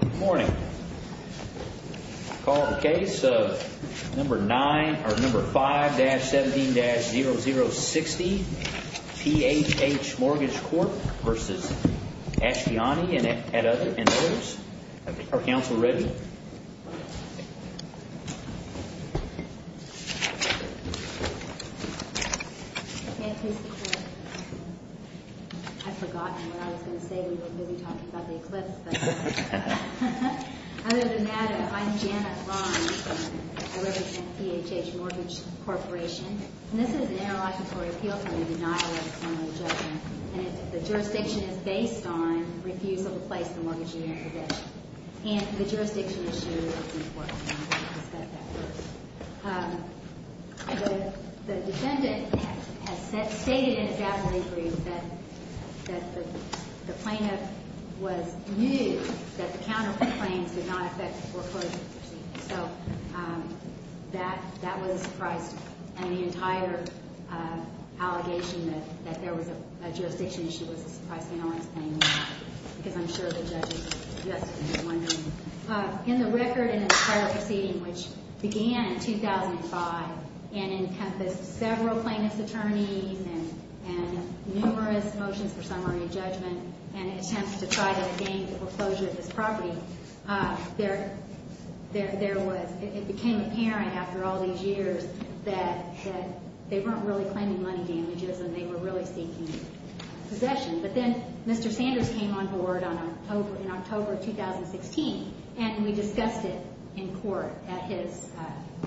Good morning. I call the case of number 5-17-0060, PHH Mortgage Corp. v. Ashtiani and others. Are counsel ready? I'd forgotten what I was going to say. We weren't really talking about the Eclipse. Other than that, I'm Janet Rhine. I represent PHH Mortgage Corporation. And this is an interlocutory appeal for the denial of a similar judgment. And if the jurisdiction is based on refusal to place the mortgage in your condition and the jurisdiction issue, it's important that we discuss that first. The defendant has stated in a gathering brief that the plaintiff was new, that the counterclaims did not affect the foreclosure proceedings. So that was a surprise to me. And the entire allegation that there was a jurisdiction issue was a surprise to me. Because I'm sure the judge is just as wondering. In the record in the entire proceeding, which began in 2005 and encompassed several plaintiff's attorneys and numerous motions for summary judgment and attempts to try to gain foreclosure of this property, it became apparent after all these years that they weren't really claiming money damages and they were really seeking possession. But then Mr. Sanders came on board in October of 2016, and we discussed it in court at his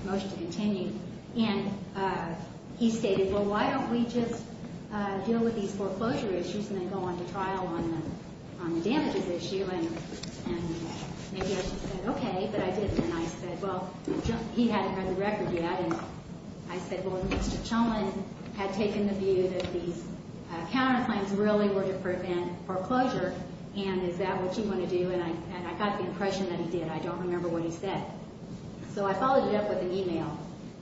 motion to continue. And he stated, well, why don't we just deal with these foreclosure issues and then go on to trial on the damages issue. And maybe I should have said okay, but I didn't. And I said, well, he hadn't read the record yet. And I said, well, Mr. Chumlin had taken the view that these counterclaims really were to prevent foreclosure, and is that what you want to do? And I got the impression that he did. I don't remember what he said. So I followed it up with an e-mail,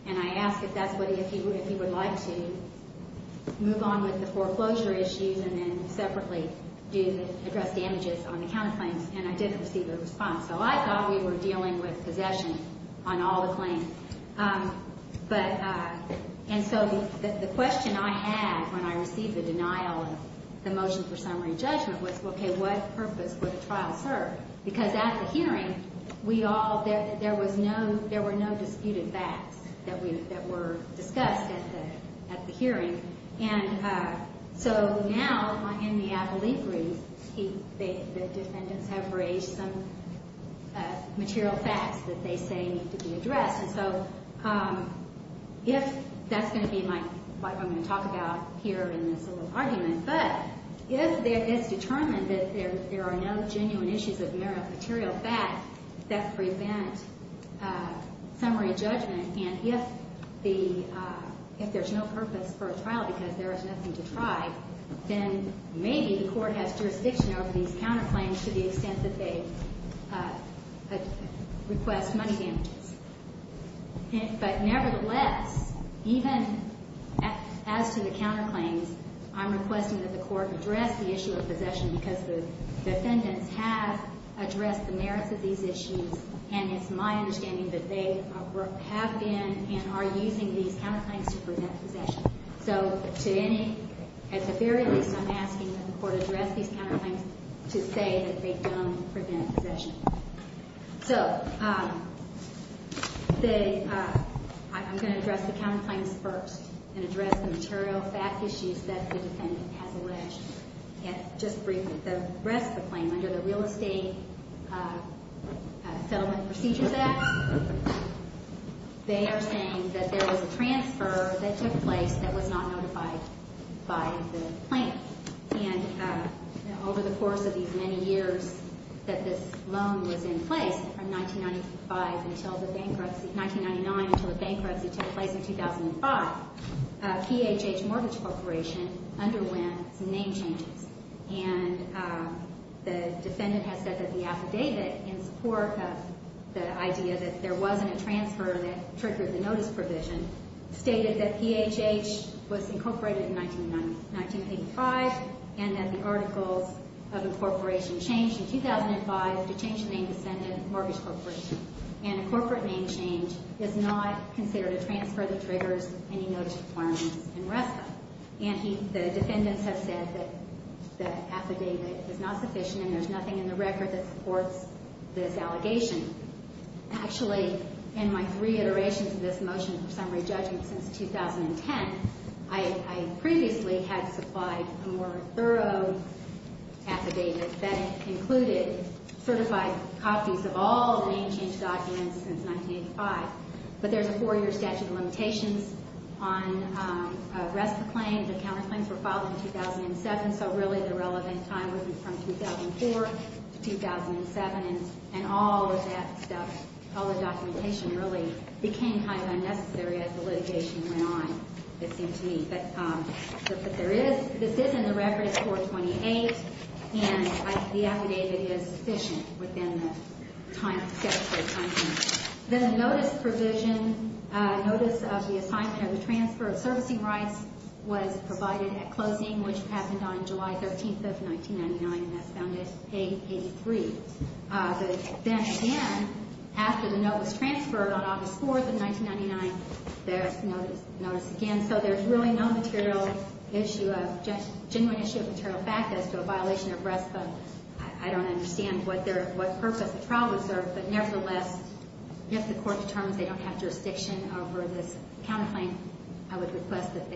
and I asked if he would like to move on with the foreclosure issues and then separately address damages on the counterclaims, and I didn't receive a response. So I thought we were dealing with possession on all the claims. And so the question I had when I received the denial of the motion for summary judgment was, okay, what purpose would a trial serve? Because at the hearing, there were no disputed facts that were discussed at the hearing. And so now in the obliquery, the defendants have raised some material facts that they say need to be addressed. And so if that's going to be what I'm going to talk about here in this little argument, but if it is determined that there are no genuine issues of material facts that prevent summary judgment, and if there's no purpose for a trial because there is nothing to try, then maybe the Court has jurisdiction over these counterclaims to the extent that they request money damages. But nevertheless, even as to the counterclaims, I'm requesting that the Court address the issue of possession because the defendants have addressed the merits of these issues, and it's my understanding that they have been and are using these counterclaims to prevent possession. So at the very least, I'm asking that the Court address these counterclaims to say that they don't prevent possession. So I'm going to address the counterclaims first and address the material fact issues that the defendant has alleged. Just briefly, the rest of the claim, under the Real Estate Settlement Procedures Act, they are saying that there was a transfer that took place that was not notified by the plaintiff. And over the course of these many years that this loan was in place, from 1995 until the bankruptcy, 1999 until the bankruptcy took place in 2005, PHH Mortgage Corporation underwent some name changes. And the defendant has said that the affidavit, in support of the idea that there wasn't a transfer that triggered the notice provision, stated that PHH was incorporated in 1985, and that the articles of incorporation changed in 2005 to change the name to Senate Mortgage Corporation. And a corporate name change is not considered a transfer that triggers any notice requirements in RESPA. And the defendants have said that the affidavit is not sufficient and there's nothing in the record that supports this allegation. Actually, in my three iterations of this motion for summary judgment since 2010, I previously had supplied a more thorough affidavit that included certified copies of all name change documents since 1985. But there's a four-year statute of limitations on a RESPA claim. The counterclaims were filed in 2007, so really the relevant time was from 2004 to 2007. And all of that stuff, all the documentation, really became kind of unnecessary as the litigation went on, it seemed to me. But this is in the record, it's 428, and the affidavit is sufficient within the statutory time frame. Then the notice provision, notice of the assignment of the transfer of servicing rights was provided at closing, which happened on July 13th of 1999, and that's found at page 83. But then again, after the note was transferred on August 4th of 1999, there's notice again. And so there's really no genuine issue of material fact as to a violation of RESPA. I don't understand what purpose the trial was served, but nevertheless, if the court determines they don't have jurisdiction over this counterclaim, I would request that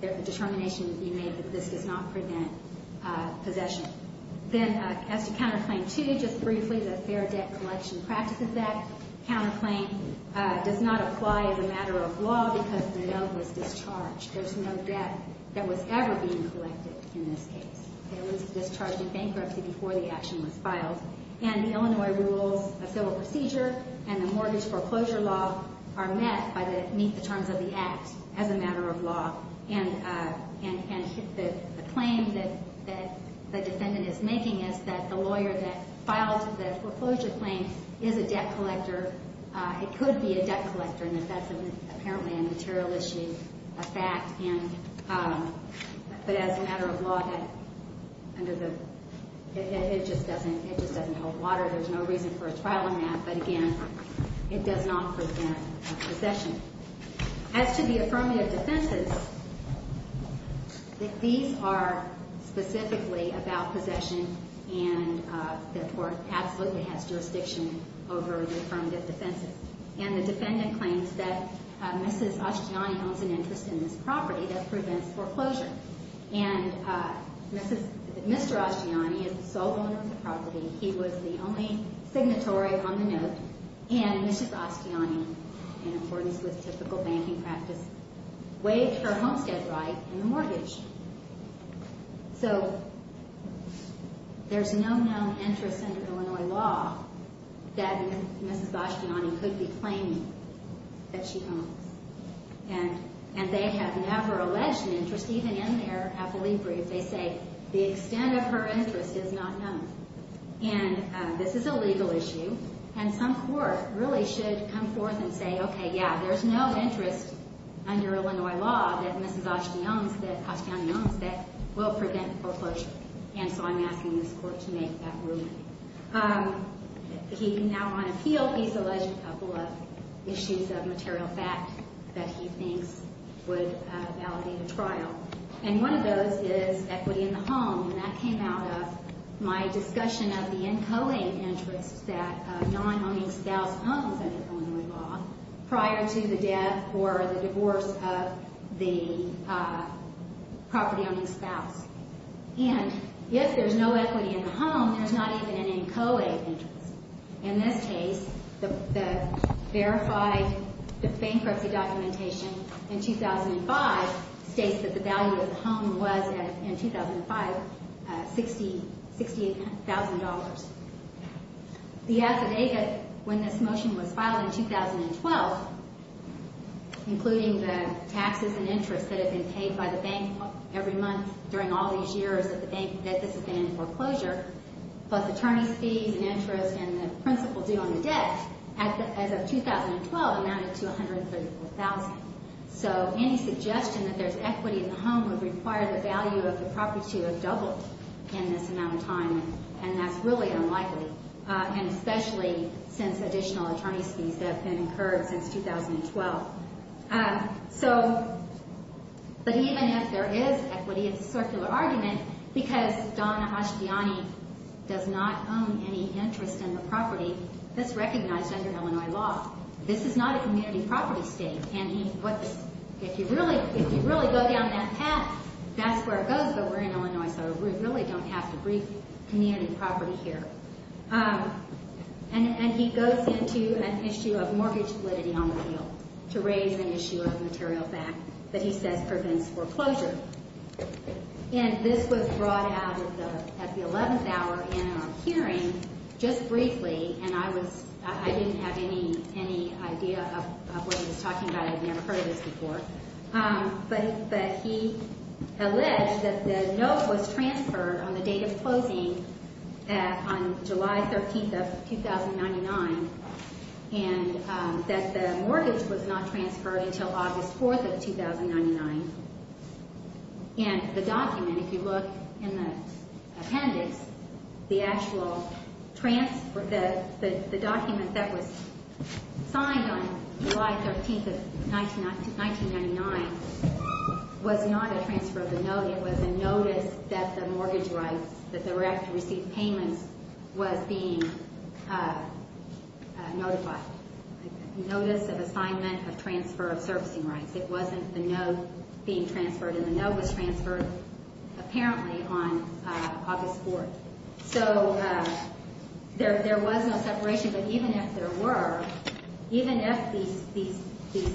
the determination be made that this does not prevent possession. Then as to Counterclaim 2, just briefly, the Fair Debt Collection Practices Act counterclaim does not apply as a matter of law because the note was discharged. There's no debt that was ever being collected in this case. It was discharged in bankruptcy before the action was filed. And the Illinois Rules of Civil Procedure and the Mortgage Foreclosure Law are met beneath the terms of the Act as a matter of law. And the claim that the defendant is making is that the lawyer that filed the foreclosure claim is a debt collector and that that's apparently a material issue, a fact. But as a matter of law, it just doesn't hold water. There's no reason for a trial on that. But again, it does not prevent possession. As to the affirmative defenses, these are specifically about possession and therefore absolutely has jurisdiction over the affirmative defenses. And the defendant claims that Mrs. Asciani owns an interest in this property that prevents foreclosure. And Mr. Asciani is the sole owner of the property. He was the only signatory on the note. And Mrs. Asciani, in accordance with typical banking practice, waived her homestead right and the mortgage. So there's no known interest under Illinois law that Mrs. Asciani could be claiming that she owns. And they have never alleged an interest, even in their affilibri. They say the extent of her interest is not known. And this is a legal issue. And some court really should come forth and say, okay, yeah, there's no interest under Illinois law that Mrs. Asciani owns that will prevent foreclosure. And so I'm asking this court to make that ruling. He now, on appeal, he's alleged a couple of issues of material fact that he thinks would validate a trial. And one of those is equity in the home. And that came out of my discussion of the inchoate interests that non-owning spouse owns under Illinois law prior to the death or the divorce of the property-owning spouse. And if there's no equity in the home, there's not even an inchoate interest. In this case, the verified bankruptcy documentation in 2005 states that the value of the home was, in 2005, $68,000. The affidavit, when this motion was filed in 2012, including the taxes and interest that have been paid by the bank every month during all these years that this has been in foreclosure, both attorney's fees and interest and the principal due on the debt, as of 2012, amounted to $134,000. So any suggestion that there's equity in the home would require the value of the property to have doubled in this amount of time. And that's really unlikely, and especially since additional attorney's fees have been incurred since 2012. So, but even if there is equity, it's a circular argument, because Donna Ashtiani does not own any interest in the property that's recognized under Illinois law. This is not a community property state. And if you really go down that path, that's where it goes, but we're in Illinois, so we really don't have to brief community property here. And he goes into an issue of mortgage validity on the field to raise an issue of material fact that he says prevents foreclosure. And this was brought out at the 11th hour in our hearing just briefly, and I didn't have any idea of what he was talking about. I've never heard of this before. But he alleged that the note was transferred on the date of closing, on July 13th of 2099, and that the mortgage was not transferred until August 4th of 2099. And the document, if you look in the appendix, the actual transfer, the document that was signed on July 13th of 1999, was not a transfer of the note. It was a notice that the mortgage rights, that the rec received payments, was being notified. A notice of assignment of transfer of servicing rights. It wasn't the note being transferred, and the note was transferred apparently on August 4th. So there was no separation, but even if there were, even if these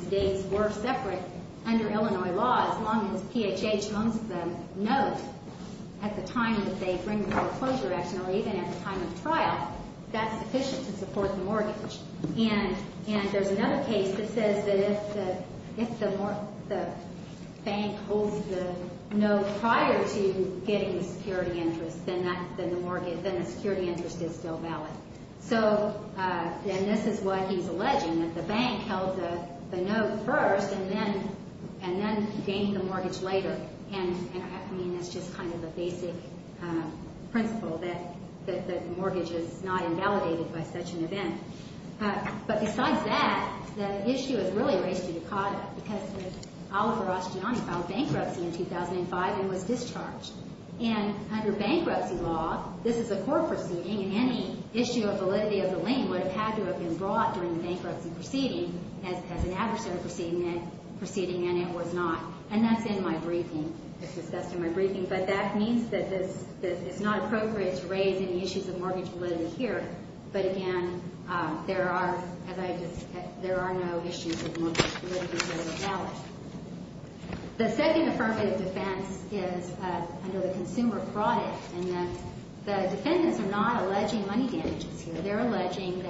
dates were separate under Illinois law, as long as PHH owns the note at the time that they bring the foreclosure action or even at the time of trial, And there's another case that says that if the bank holds the note prior to getting the security interest, then the security interest is still valid. So, and this is what he's alleging, that the bank held the note first and then gained the mortgage later. And, I mean, that's just kind of the basic principle that the mortgage is not invalidated by such an event. But besides that, the issue is really raised to Dakota, because Oliver Asciani filed bankruptcy in 2005 and was discharged. And under bankruptcy law, this is a court proceeding, and any issue of validity of the lien would have had to have been brought during the bankruptcy proceeding as an adversary proceeding, and it was not. And that's in my briefing. It's discussed in my briefing. But that means that it's not appropriate to raise any issues of mortgage validity here. But, again, there are, as I just said, there are no issues of mortgage validity that are invalid. The second affirmative defense is under the consumer fraud act. And the defendants are not alleging money damages here. They're alleging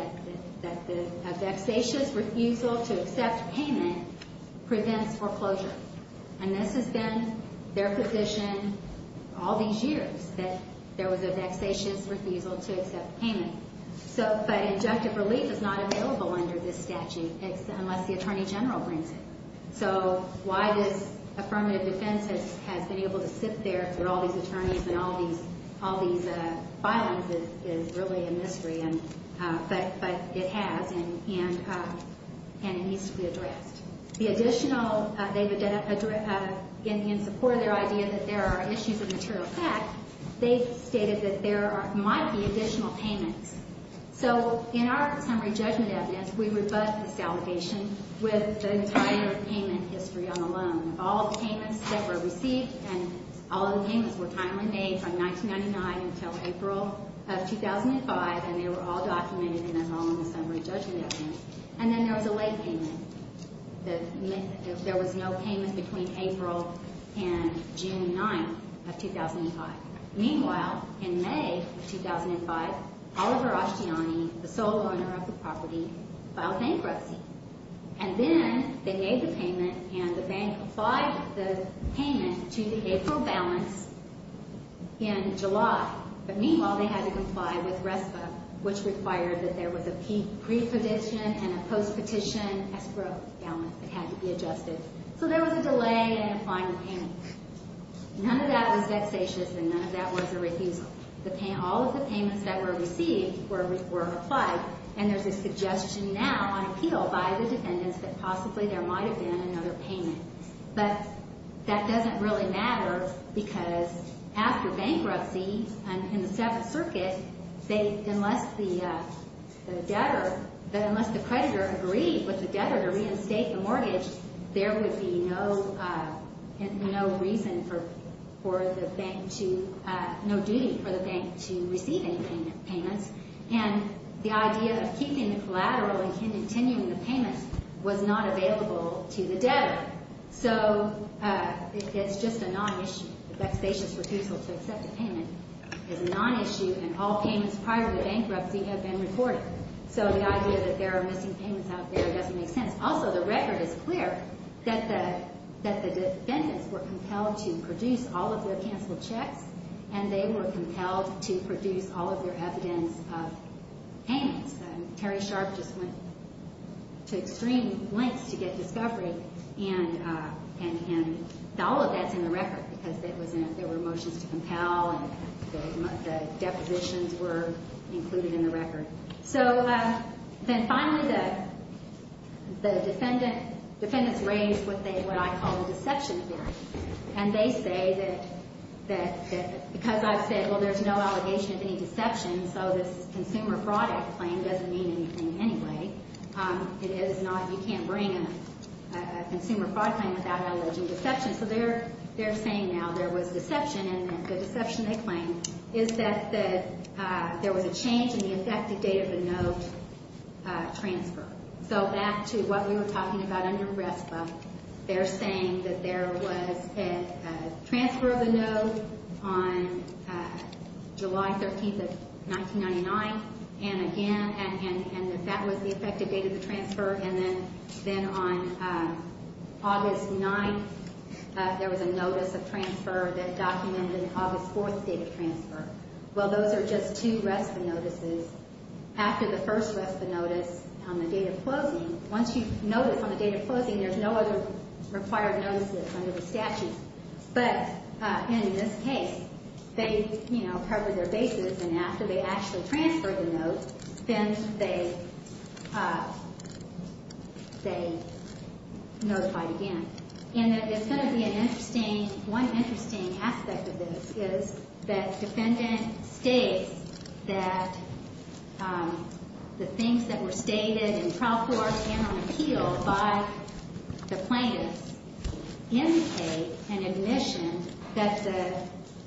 that a vexatious refusal to accept payment prevents foreclosure. And this has been their position all these years, that there was a vexatious refusal to accept payment. But injunctive relief is not available under this statute unless the attorney general brings it. So why this affirmative defense has been able to sit there for all these attorneys and all these violences is really a mystery. But it has, and it needs to be addressed. The additional, in support of their idea that there are issues of material fact, they stated that there might be additional payments. So in our summary judgment evidence, we rebut this allegation with the entire payment history on the loan. All the payments that were received and all of the payments were timely made from 1999 until April of 2005, and they were all documented in the loan summary judgment evidence. And then there was a late payment. There was no payment between April and June 9th of 2005. Meanwhile, in May of 2005, Oliver Ashtiani, the sole owner of the property, filed bankruptcy. And then they made the payment and the bank applied the payment to the April balance in July. But meanwhile, they had to comply with RESPA, which required that there was a pre-prediction and a post-petition escrow balance that had to be adjusted. So there was a delay in applying the payment. None of that was dexacious, and none of that was a refusal. All of the payments that were received were applied, and there's a suggestion now on appeal by the defendants that possibly there might have been another payment. But that doesn't really matter because after bankruptcy in the Seventh Circuit, unless the creditor agreed with the debtor to reinstate the mortgage, there would be no reason for the bank to—no duty for the bank to receive any payments. And the idea of keeping the collateral and continuing the payments was not available to the debtor. So it's just a non-issue. A dexacious refusal to accept a payment is a non-issue, and all payments prior to bankruptcy have been recorded. So the idea that there are missing payments out there doesn't make sense. Also, the record is clear that the defendants were compelled to produce all of their canceled checks, and they were compelled to produce all of their evidence of payments. And Terry Sharp just went to extreme lengths to get discovery, and all of that's in the record because there were motions to compel and the depositions were included in the record. So then finally, the defendants raise what I call a deception theory, and they say that because I've said, well, there's no allegation of any deception, so this consumer fraud claim doesn't mean anything anyway. It is not—you can't bring a consumer fraud claim without alleging deception. So they're saying now there was deception, and the deception they claim is that there was a change in the effective date of the note transfer. So back to what we were talking about under RESPA, they're saying that there was a transfer of the note on July 13th of 1999, and again—and that that was the effective date of the transfer. And then on August 9th, there was a notice of transfer that documented August 4th's date of transfer. Well, those are just two RESPA notices. After the first RESPA notice on the date of closing, once you notice on the date of closing, there's no other required notices under the statute. But in this case, they, you know, covered their bases, and after they actually transferred the note, then they notified again. And there's going to be an interesting—one interesting aspect of this is that defendant states that the things that were stated in trial court and on appeal by the plaintiffs indicate an admission that the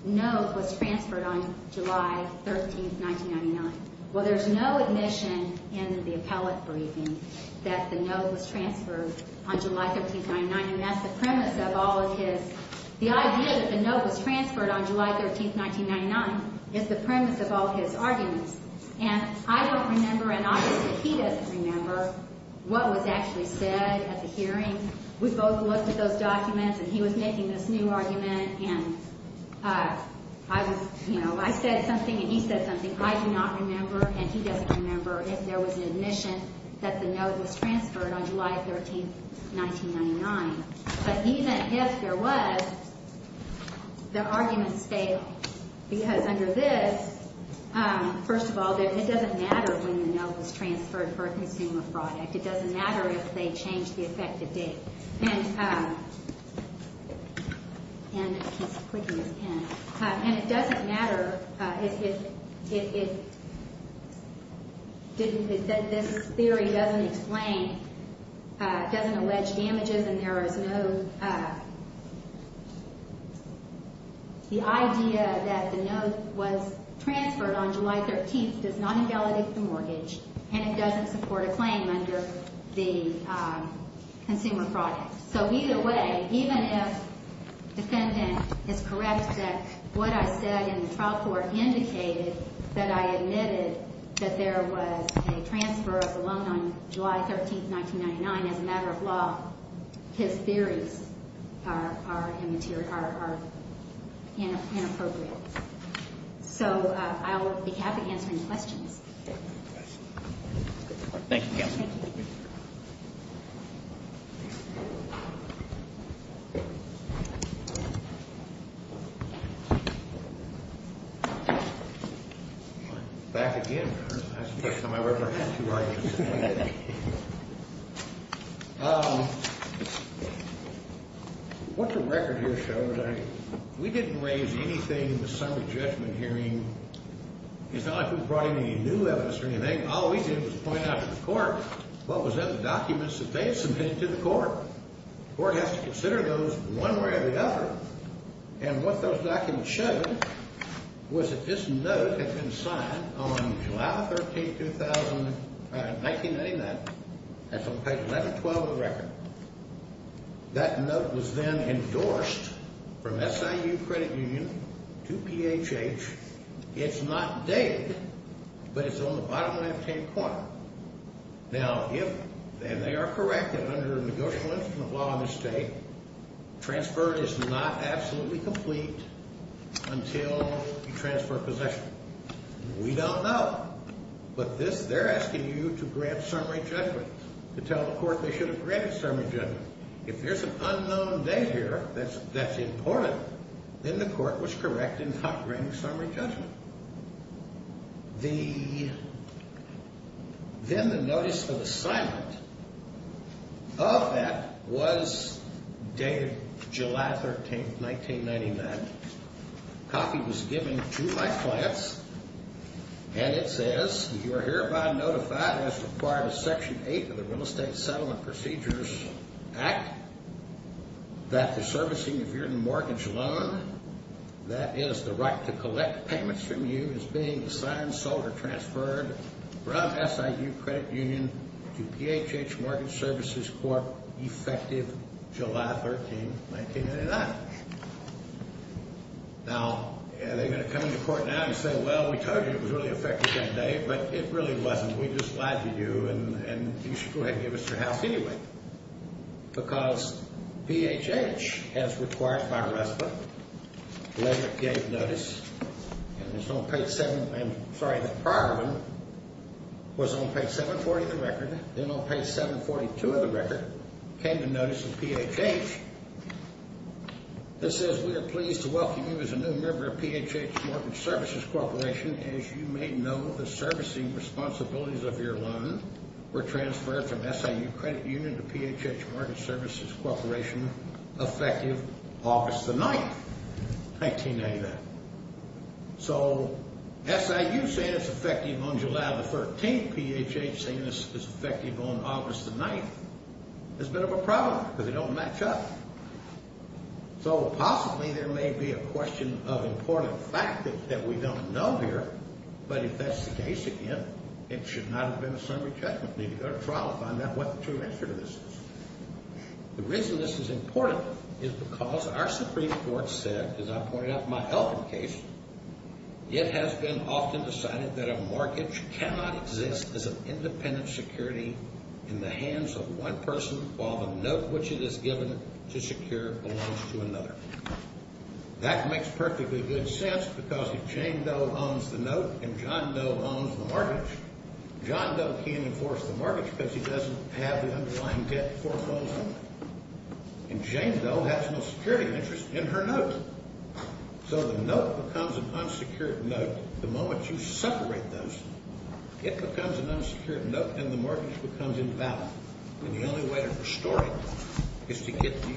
note was transferred on July 13th, 1999. Well, there's no admission in the appellate briefing that the note was transferred on July 13th, 1999, and that's the premise of all of his—the idea that the note was transferred on July 13th, 1999 is the premise of all his arguments. And I don't remember, and obviously he doesn't remember, what was actually said at the hearing. We both looked at those documents, and he was making this new argument, and I was—you know, I said something and he said something. I do not remember, and he doesn't remember, if there was an admission that the note was transferred on July 13th, 1999. But even if there was, the argument stayed. Because under this, first of all, it doesn't matter when the note was transferred for a consumer product. It doesn't matter if they changed the effective date. And it doesn't matter if—this theory doesn't explain—doesn't allege damages and there is no— the idea that the note was transferred on July 13th does not invalidate the mortgage and it doesn't support a claim under the consumer product. So either way, even if the defendant is correct that what I said in the trial court indicated that I admitted that there was a transfer of the loan on July 13th, 1999, as a matter of law, his theories are inappropriate. So I'll be happy to answer any questions. Thank you, Counsel. Thank you. Back again. That's the first time I've ever had two arguments. What the record here shows, we didn't raise anything in the summary judgment hearing. It's not like we brought in any new evidence or anything. All we did was point out to the court what was in the documents that they submitted to the court. The court has to consider those one way or the other. And what those documents showed was that this note had been signed on July 13th, 1999. That's on page 1112 of the record. That note was then endorsed from SIU Credit Union to PHH. It's not dated, but it's on the bottom left-hand corner. Now, if, and they are correct that under a negotiable instrument of law in this state, transfer is not absolutely complete until you transfer possession. We don't know. But this, they're asking you to grant summary judgment, to tell the court they should have granted summary judgment. If there's an unknown date here that's important, then the court was correct in not granting summary judgment. Then the notice of assignment of that was dated July 13th, 1999. A copy was given to my clients, and it says, You are hereby notified as required of Section 8 of the Real Estate Settlement Procedures Act that the servicing of your mortgage loan, that is the right to collect payments from you, is being signed, sold, or transferred from SIU Credit Union to PHH Mortgage Services Corp. effective July 13th, 1999. Now, they're going to come into court now and say, Well, we told you it was really effective that day, but it really wasn't. We just lied to you, and you should go ahead and give us your house anyway. Because PHH, as required by RESPA, later gave notice, and it's on page 7, I'm sorry, the prior one was on page 740 of the record. Then on page 742 of the record came the notice of PHH. This says, We are pleased to welcome you as a new member of PHH Mortgage Services Corporation. As you may know, the servicing responsibilities of your loan were transferred from SIU Credit Union to PHH Mortgage Services Corporation effective August 9th, 1999. So, SIU saying it's effective on July 13th, PHH saying it's effective on August 9th, is a bit of a problem, because they don't match up. So, possibly there may be a question of important factors that we don't know here, but if that's the case, again, it should not have been a summary judgment. You need to go to trial to find out what the true answer to this is. The reason this is important is because our Supreme Court said, as I pointed out in my Elkin case, it has been often decided that a mortgage cannot exist as an independent security in the hands of one person, while the note which it is given to secure belongs to another. That makes perfectly good sense, because if Jane Doe owns the note, and John Doe owns the mortgage, John Doe can't enforce the mortgage because he doesn't have the underlying debt foreclosed on it. And Jane Doe has no security interest in her note. So, the note becomes an unsecured note the moment you separate those. It becomes an unsecured note, and the mortgage becomes invalid. And the only way to restore it is to get the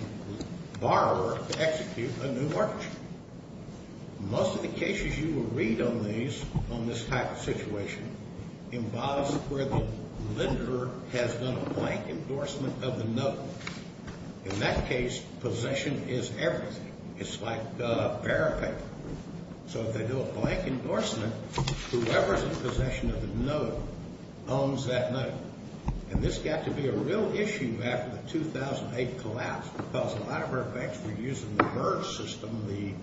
borrower to execute a new mortgage. Most of the cases you will read on these, on this type of situation, embodies where the lender has done a blank endorsement of the note. In that case, possession is everything. It's like a barren paper. So, if they do a blank endorsement, whoever is in possession of the note owns that note. And this got to be a real issue after the 2008 collapse, because a lot of our banks were using the MERS system, the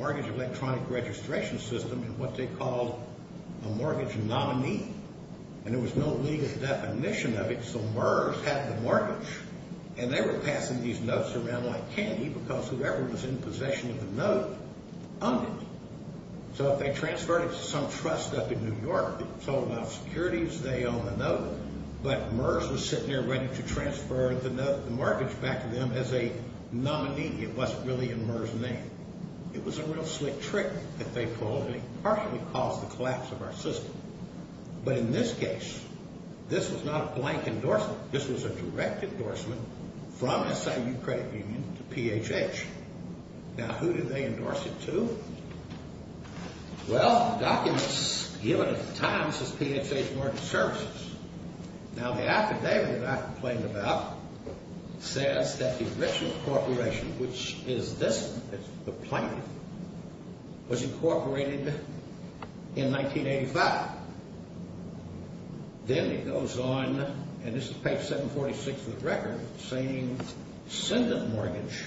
Mortgage Electronic Registration System, in what they called a mortgage nominee. And there was no legal definition of it, so MERS had the mortgage. And they were passing these notes around like candy, because whoever was in possession of the note owned it. So, if they transferred it to some trust up in New York, they were told about securities, they own the note, but MERS was sitting there ready to transfer the mortgage back to them as a nominee. It wasn't really in MERS' name. It was a real slick trick that they pulled, and it partially caused the collapse of our system. But in this case, this was not a blank endorsement. This was a direct endorsement from SIU Credit Union to PHH. Now, who did they endorse it to? Well, the documents given at the time says PHH Mortgage Services. Now, the affidavit I complained about says that the Richard Corporation, which is this, the plaintiff, was incorporated in 1985. Then it goes on, and this is page 746 of the record, saying ascendant mortgage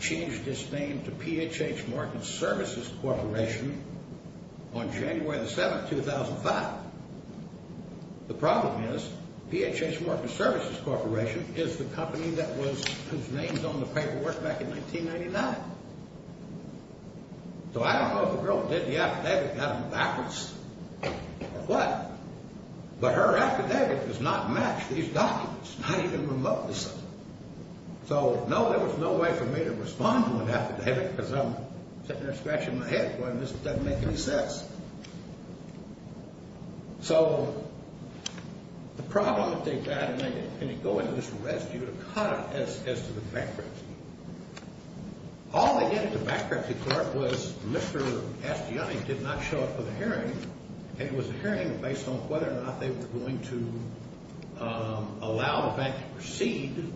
changed its name to PHH Mortgage Services Corporation on January the 7th, 2005. The problem is PHH Mortgage Services Corporation is the company that was, whose name's on the paperwork back in 1999. So, I don't know if the girl that did the affidavit got them backwards or what, but her affidavit does not match these documents, not even remotely so. So, no, there was no way for me to respond to an affidavit because I'm sitting there scratching my head going, this doesn't make any sense. So, the problem that they had, and then you go into this arrest, you're caught as to the bankruptcy. All they did at the bankruptcy court was Mr. Astiani did not show up for the hearing. It was a hearing based on whether or not they were going to allow the bank to proceed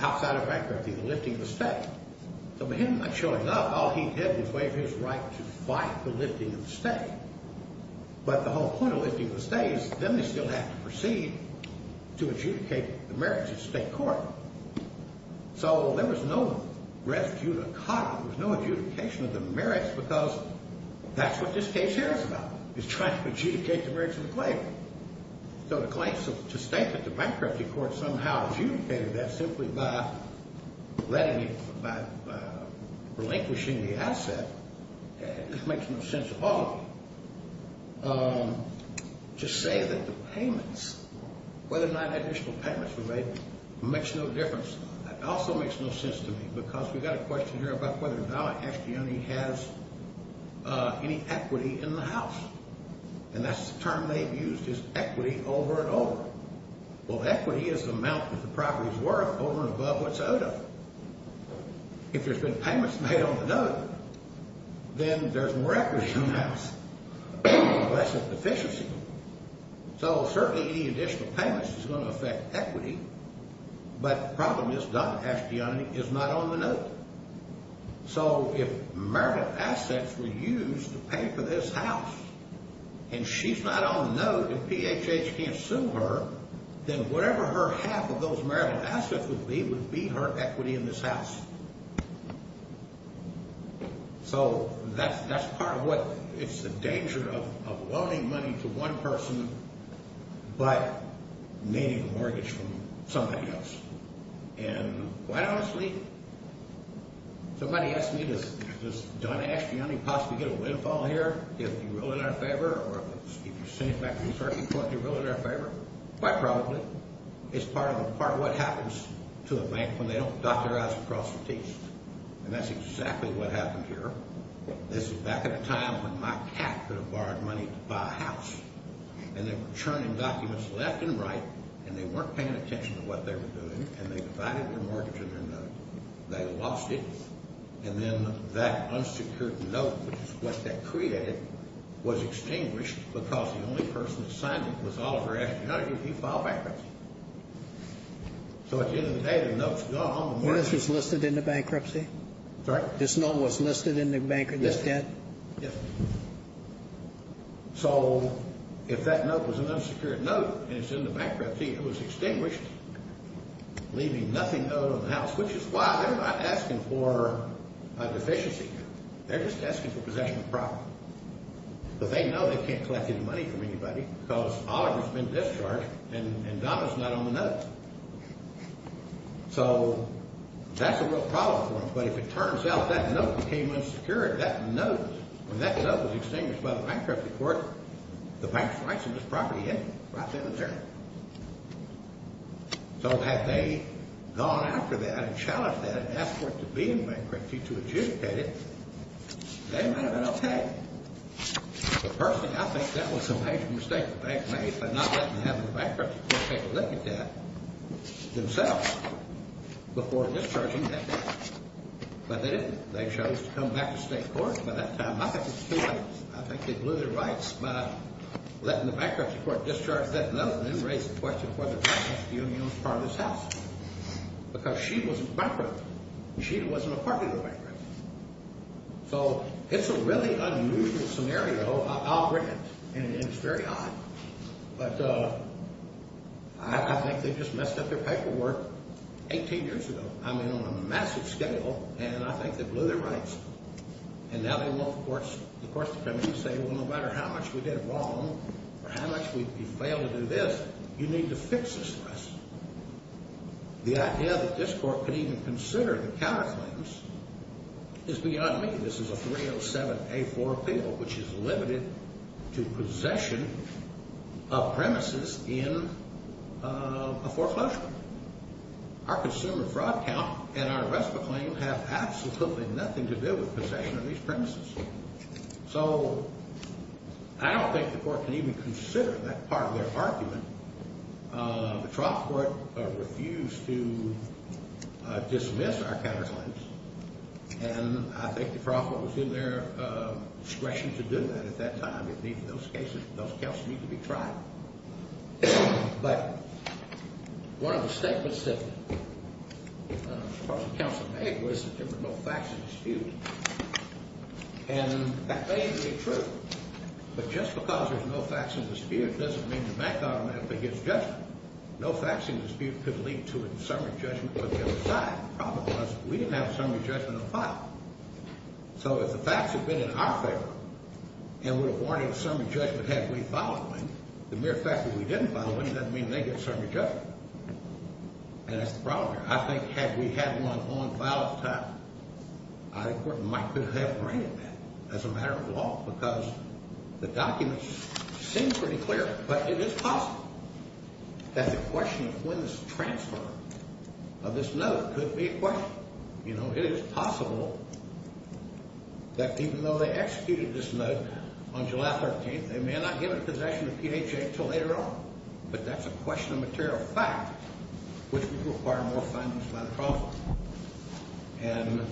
outside of bankruptcy, the lifting of the stay. So, him not showing up, all he did was waive his right to fight the lifting of the stay. But the whole point of lifting the stay is then they still have to proceed to adjudicate the merits at state court. So, there was no rescue to cotton. There was no adjudication of the merits because that's what this case here is about, is trying to adjudicate the merits of the claim. So, the claim to state that the bankruptcy court somehow adjudicated that simply by relinquishing the asset, it makes no sense at all to say that the payments, whether or not additional payments were made, makes no difference. It also makes no sense to me because we've got a question here about whether or not Astiani has any equity in the house. And that's the term they've used is equity over and over. Well, equity is the amount that the property is worth over and above what's owed of it. If there's been payments made on the note, then there's more equity in the house, less of a deficiency. So, certainly any additional payments is going to affect equity, but the problem is Dr. Astiani is not on the note. So, if merit assets were used to pay for this house and she's not on the note and PHH can't sue her, then whatever her half of those merit assets would be would be her equity in this house. So, that's part of what – it's the danger of loaning money to one person by needing a mortgage from somebody else. And quite honestly, somebody asked me, does Don Astiani possibly get a windfall here if he willed it in our favor, or if he's sent it back to the circuit court and he willed it in our favor? Quite probably. It's part of what happens to a bank when they don't dot their I's across the T's. And that's exactly what happened here. This is back in a time when my cat could have borrowed money to buy a house. And they were churning documents left and right, and they weren't paying attention to what they were doing, and they divided their mortgage in their note. They lost it, and then that unsecured note, which is what they created, was extinguished because the only person that signed it was Oliver Astiani because he filed bankruptcy. So, at the end of the day, the note's gone. This was listed in the bankruptcy? Sorry? This note was listed in the bank – this debt? Yes, sir. Yes, sir. So, if that note was an unsecured note and it's in the bankruptcy, it was extinguished, leaving nothing owed on the house, which is why they're not asking for a deficiency. They're just asking for possession of property. But they know they can't collect any money from anybody because Oliver's been discharged and Donna's not on the note. So, that's a real problem for them. But if it turns out that note became unsecured, that note, when that note was extinguished by the bankruptcy court, the bank's rights on this property ended right then and there. So, had they gone after that and challenged that and asked for it to be in bankruptcy to adjudicate it, they might have been okay. But personally, I think that was a major mistake the banks made by not letting them have it in bankruptcy before taking a look at that themselves, before discharging that debt. But they didn't. They chose to come back to state courts by that time. I think they blew their rights by letting the bankruptcy court discharge that note and then raise the question of whether the bankruptcy union was part of this house. Because she wasn't bankrupt. She wasn't a part of the bankruptcy. So, it's a really unusual scenario, I'll grant. And it's very odd. But I think they just messed up their paperwork 18 years ago. And I think they blew their rights. And now they want the courts to come in and say, well, no matter how much we did wrong or how much we failed to do this, you need to fix this for us. The idea that this court could even consider the counterclaims is beyond me. This is a 307A4 appeal, which is limited to possession of premises in a foreclosure. But our consumer fraud count and our arrest of a claim have absolutely nothing to do with possession of these premises. So, I don't think the court can even consider that part of their argument. The trial court refused to dismiss our counterclaims. And I think the trial court was in their discretion to do that at that time. Those counts need to be tried. But one of the statements that the courts and counsel made was that there were no facts in dispute. And that may be true. But just because there's no facts in dispute doesn't mean the bank automatically gets judgment. No facts in dispute could lead to a summary judgment on the other side. The problem was we didn't have a summary judgment on the file. So, if the facts had been in our favor and would have warranted a summary judgment had we filed one, the mere fact that we didn't file one doesn't mean they get a summary judgment. And that's the problem here. I think had we had one on file at the time, I think the court might could have granted that as a matter of law because the documents seem pretty clear. But it is possible that the question of when this transfer of this note could be a question. You know, it is possible that even though they executed this note on July 13th, they may not give it in possession of PHA until later on. But that's a question of material fact, which would require more findings by the counsel. And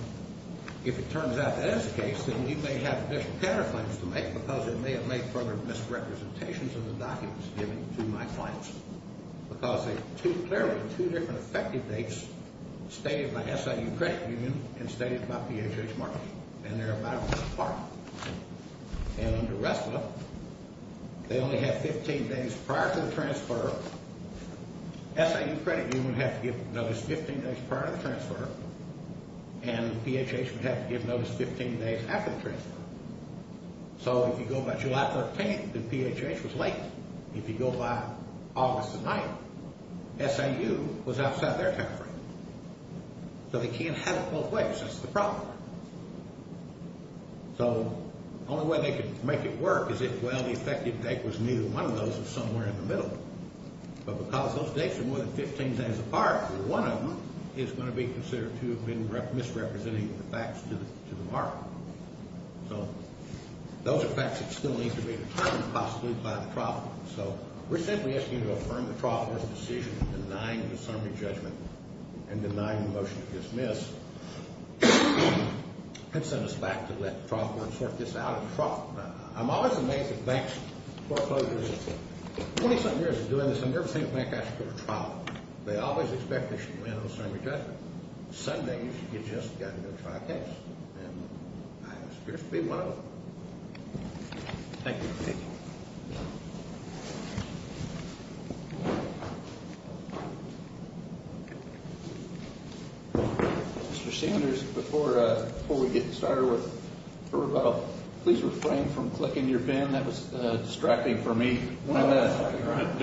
if it turns out that is the case, then you may have additional counter-findings to make because it may have made further misrepresentations of the documents given to my clients. Because there are clearly two different effective dates stated by SIU Credit Union and stated by PHA's marketing. And they're about a month apart. And under RESTA, they only have 15 days prior to the transfer. SIU Credit Union would have to give notice 15 days prior to the transfer. And PHA would have to give notice 15 days after the transfer. So, if you go by July 13th, then PHA was late. If you go by August 9th, SIU was outside their time frame. So, they can't have it both ways. That's the problem. So, the only way they could make it work is if, well, the effective date was neither one of those or somewhere in the middle. But because those dates are more than 15 days apart, one of them is going to be considered to have been misrepresenting the facts to the market. So, those are facts that still need to be determined possibly by the trial court. So, we're simply asking you to affirm the trial court's decision denying the summary judgment and denying the motion to dismiss and send us back to let the trial court sort this out. I'm always amazed at banks' foreclosures. Twenty-something years of doing this, I've never seen a bank ask for a trial. They always expect they should win on a summary judgment. Some days, you've just got to go try a case. And I have the experience to be one of them. Thank you. Thank you. Mr. Sanders, before we get started with the rebuttal, please refrain from clicking your pen. That was distracting for me. I know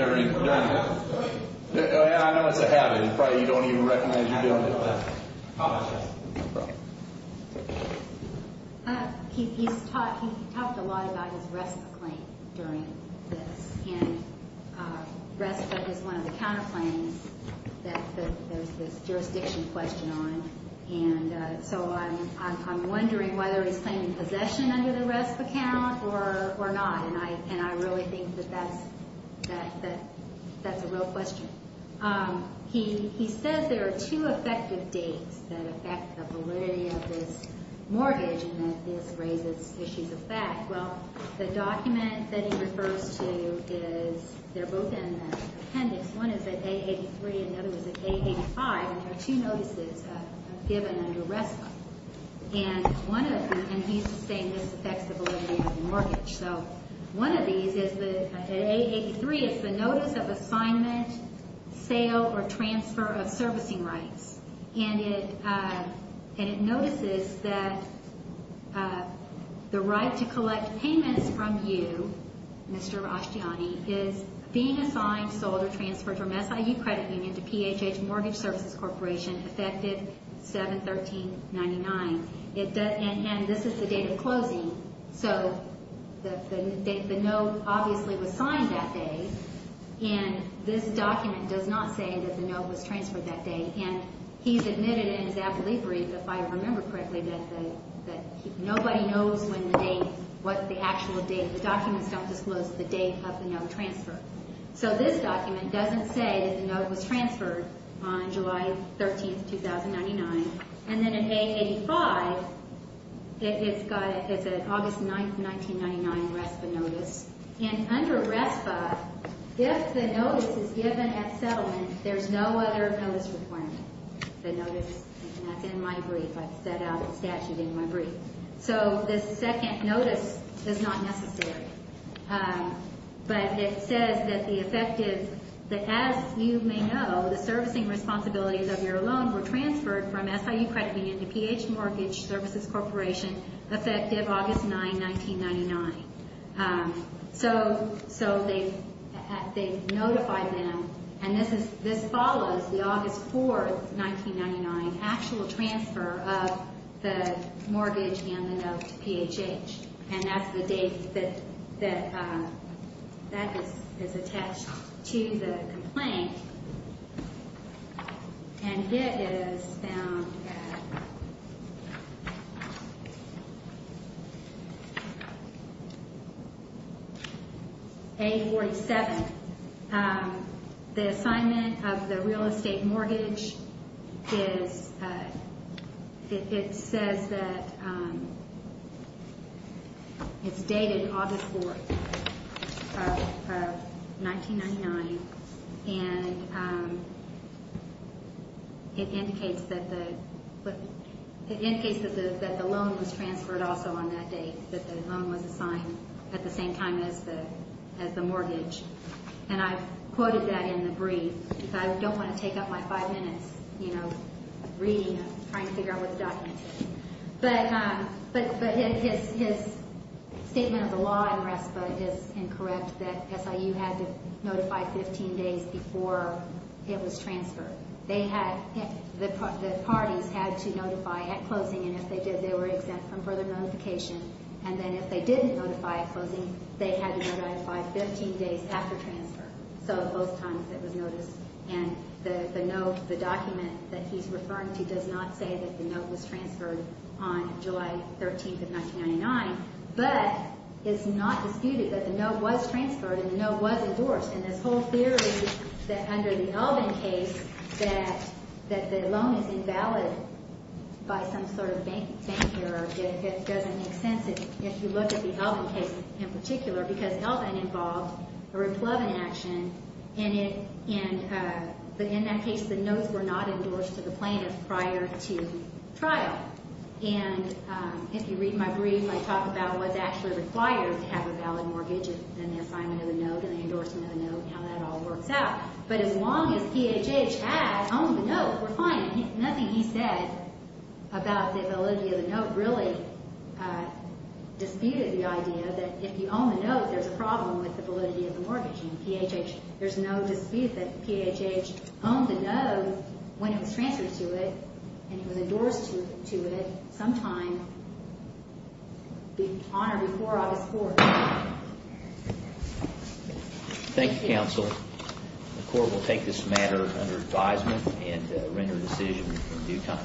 it's a habit. You probably don't even recognize you're doing it. I apologize. No problem. He talked a lot about his RESPA claim during this. And RESPA is one of the counterclaims that there's this jurisdiction question on. And so, I'm wondering whether he's claiming possession under the RESPA count or not. And I really think that that's a real question. He says there are two effective dates that affect the validity of this mortgage and that this raises issues of fact. Well, the document that he refers to is they're both in the appendix. One is at A83 and the other is at A85. And there are two notices given under RESPA. So, one of these is at A83 is the Notice of Assignment, Sale, or Transfer of Servicing Rights. And it notices that the right to collect payments from you, Mr. Ashtiani, is being assigned, sold, or transferred from SIU Credit Union to PHH Mortgage Services Corporation effective 7-13-99. So, the note obviously was signed that day. And this document does not say that the note was transferred that day. And he's admitted in his affidavit brief, if I remember correctly, that nobody knows when the date, what the actual date. The documents don't disclose the date of the note transfer. So, this document doesn't say that the note was transferred on July 13, 2099. And then at A85, it's an August 9, 1999 RESPA notice. And under RESPA, if the notice is given at settlement, there's no other notice required. The notice, and that's in my brief. I've set out the statute in my brief. So, this second notice is not necessary. But it says that the effective, that as you may know, the servicing responsibilities of your loan were transferred from SIU Credit Union to PHH Mortgage Services Corporation effective August 9, 1999. So, they've notified them. And this follows the August 4, 1999 actual transfer of the mortgage and the note to PHH. And that's the date that that is attached to the complaint. And it is found at A47. The assignment of the real estate mortgage is, it says that it's dated August 4, 1999. And it indicates that the loan was transferred also on that date. That the loan was assigned at the same time as the mortgage. And I've quoted that in the brief. I don't want to take up my five minutes, you know, reading, trying to figure out what the document is. But his statement of the law in RESPA is incorrect that SIU had to notify 15 days before it was transferred. The parties had to notify at closing. And if they did, they were exempt from further notification. And then if they didn't notify at closing, they had to notify 15 days after transfer. So, both times it was noticed. And the note, the document that he's referring to does not say that the note was transferred on July 13, 1999. But it's not disputed that the note was transferred and the note was endorsed. And this whole theory that under the Elvin case, that the loan is invalid by some sort of banker, it doesn't make sense if you look at the Elvin case in particular. Because Elvin involved a replugging action. And in that case, the notes were not endorsed to the plaintiff prior to trial. And if you read my brief, I talk about what's actually required to have a valid mortgage. And then the assignment of the note and the endorsement of the note and how that all works out. But as long as PHH had owned the note, we're fine. Nothing he said about the validity of the note really disputed the idea that if you own the note, there's a problem with the validity of the mortgage. In PHH, there's no dispute that PHH owned the note when it was transferred to it and it was endorsed to it sometime on or before August 4th. Thank you, counsel. The court will take this matter under advisement and render a decision in due time.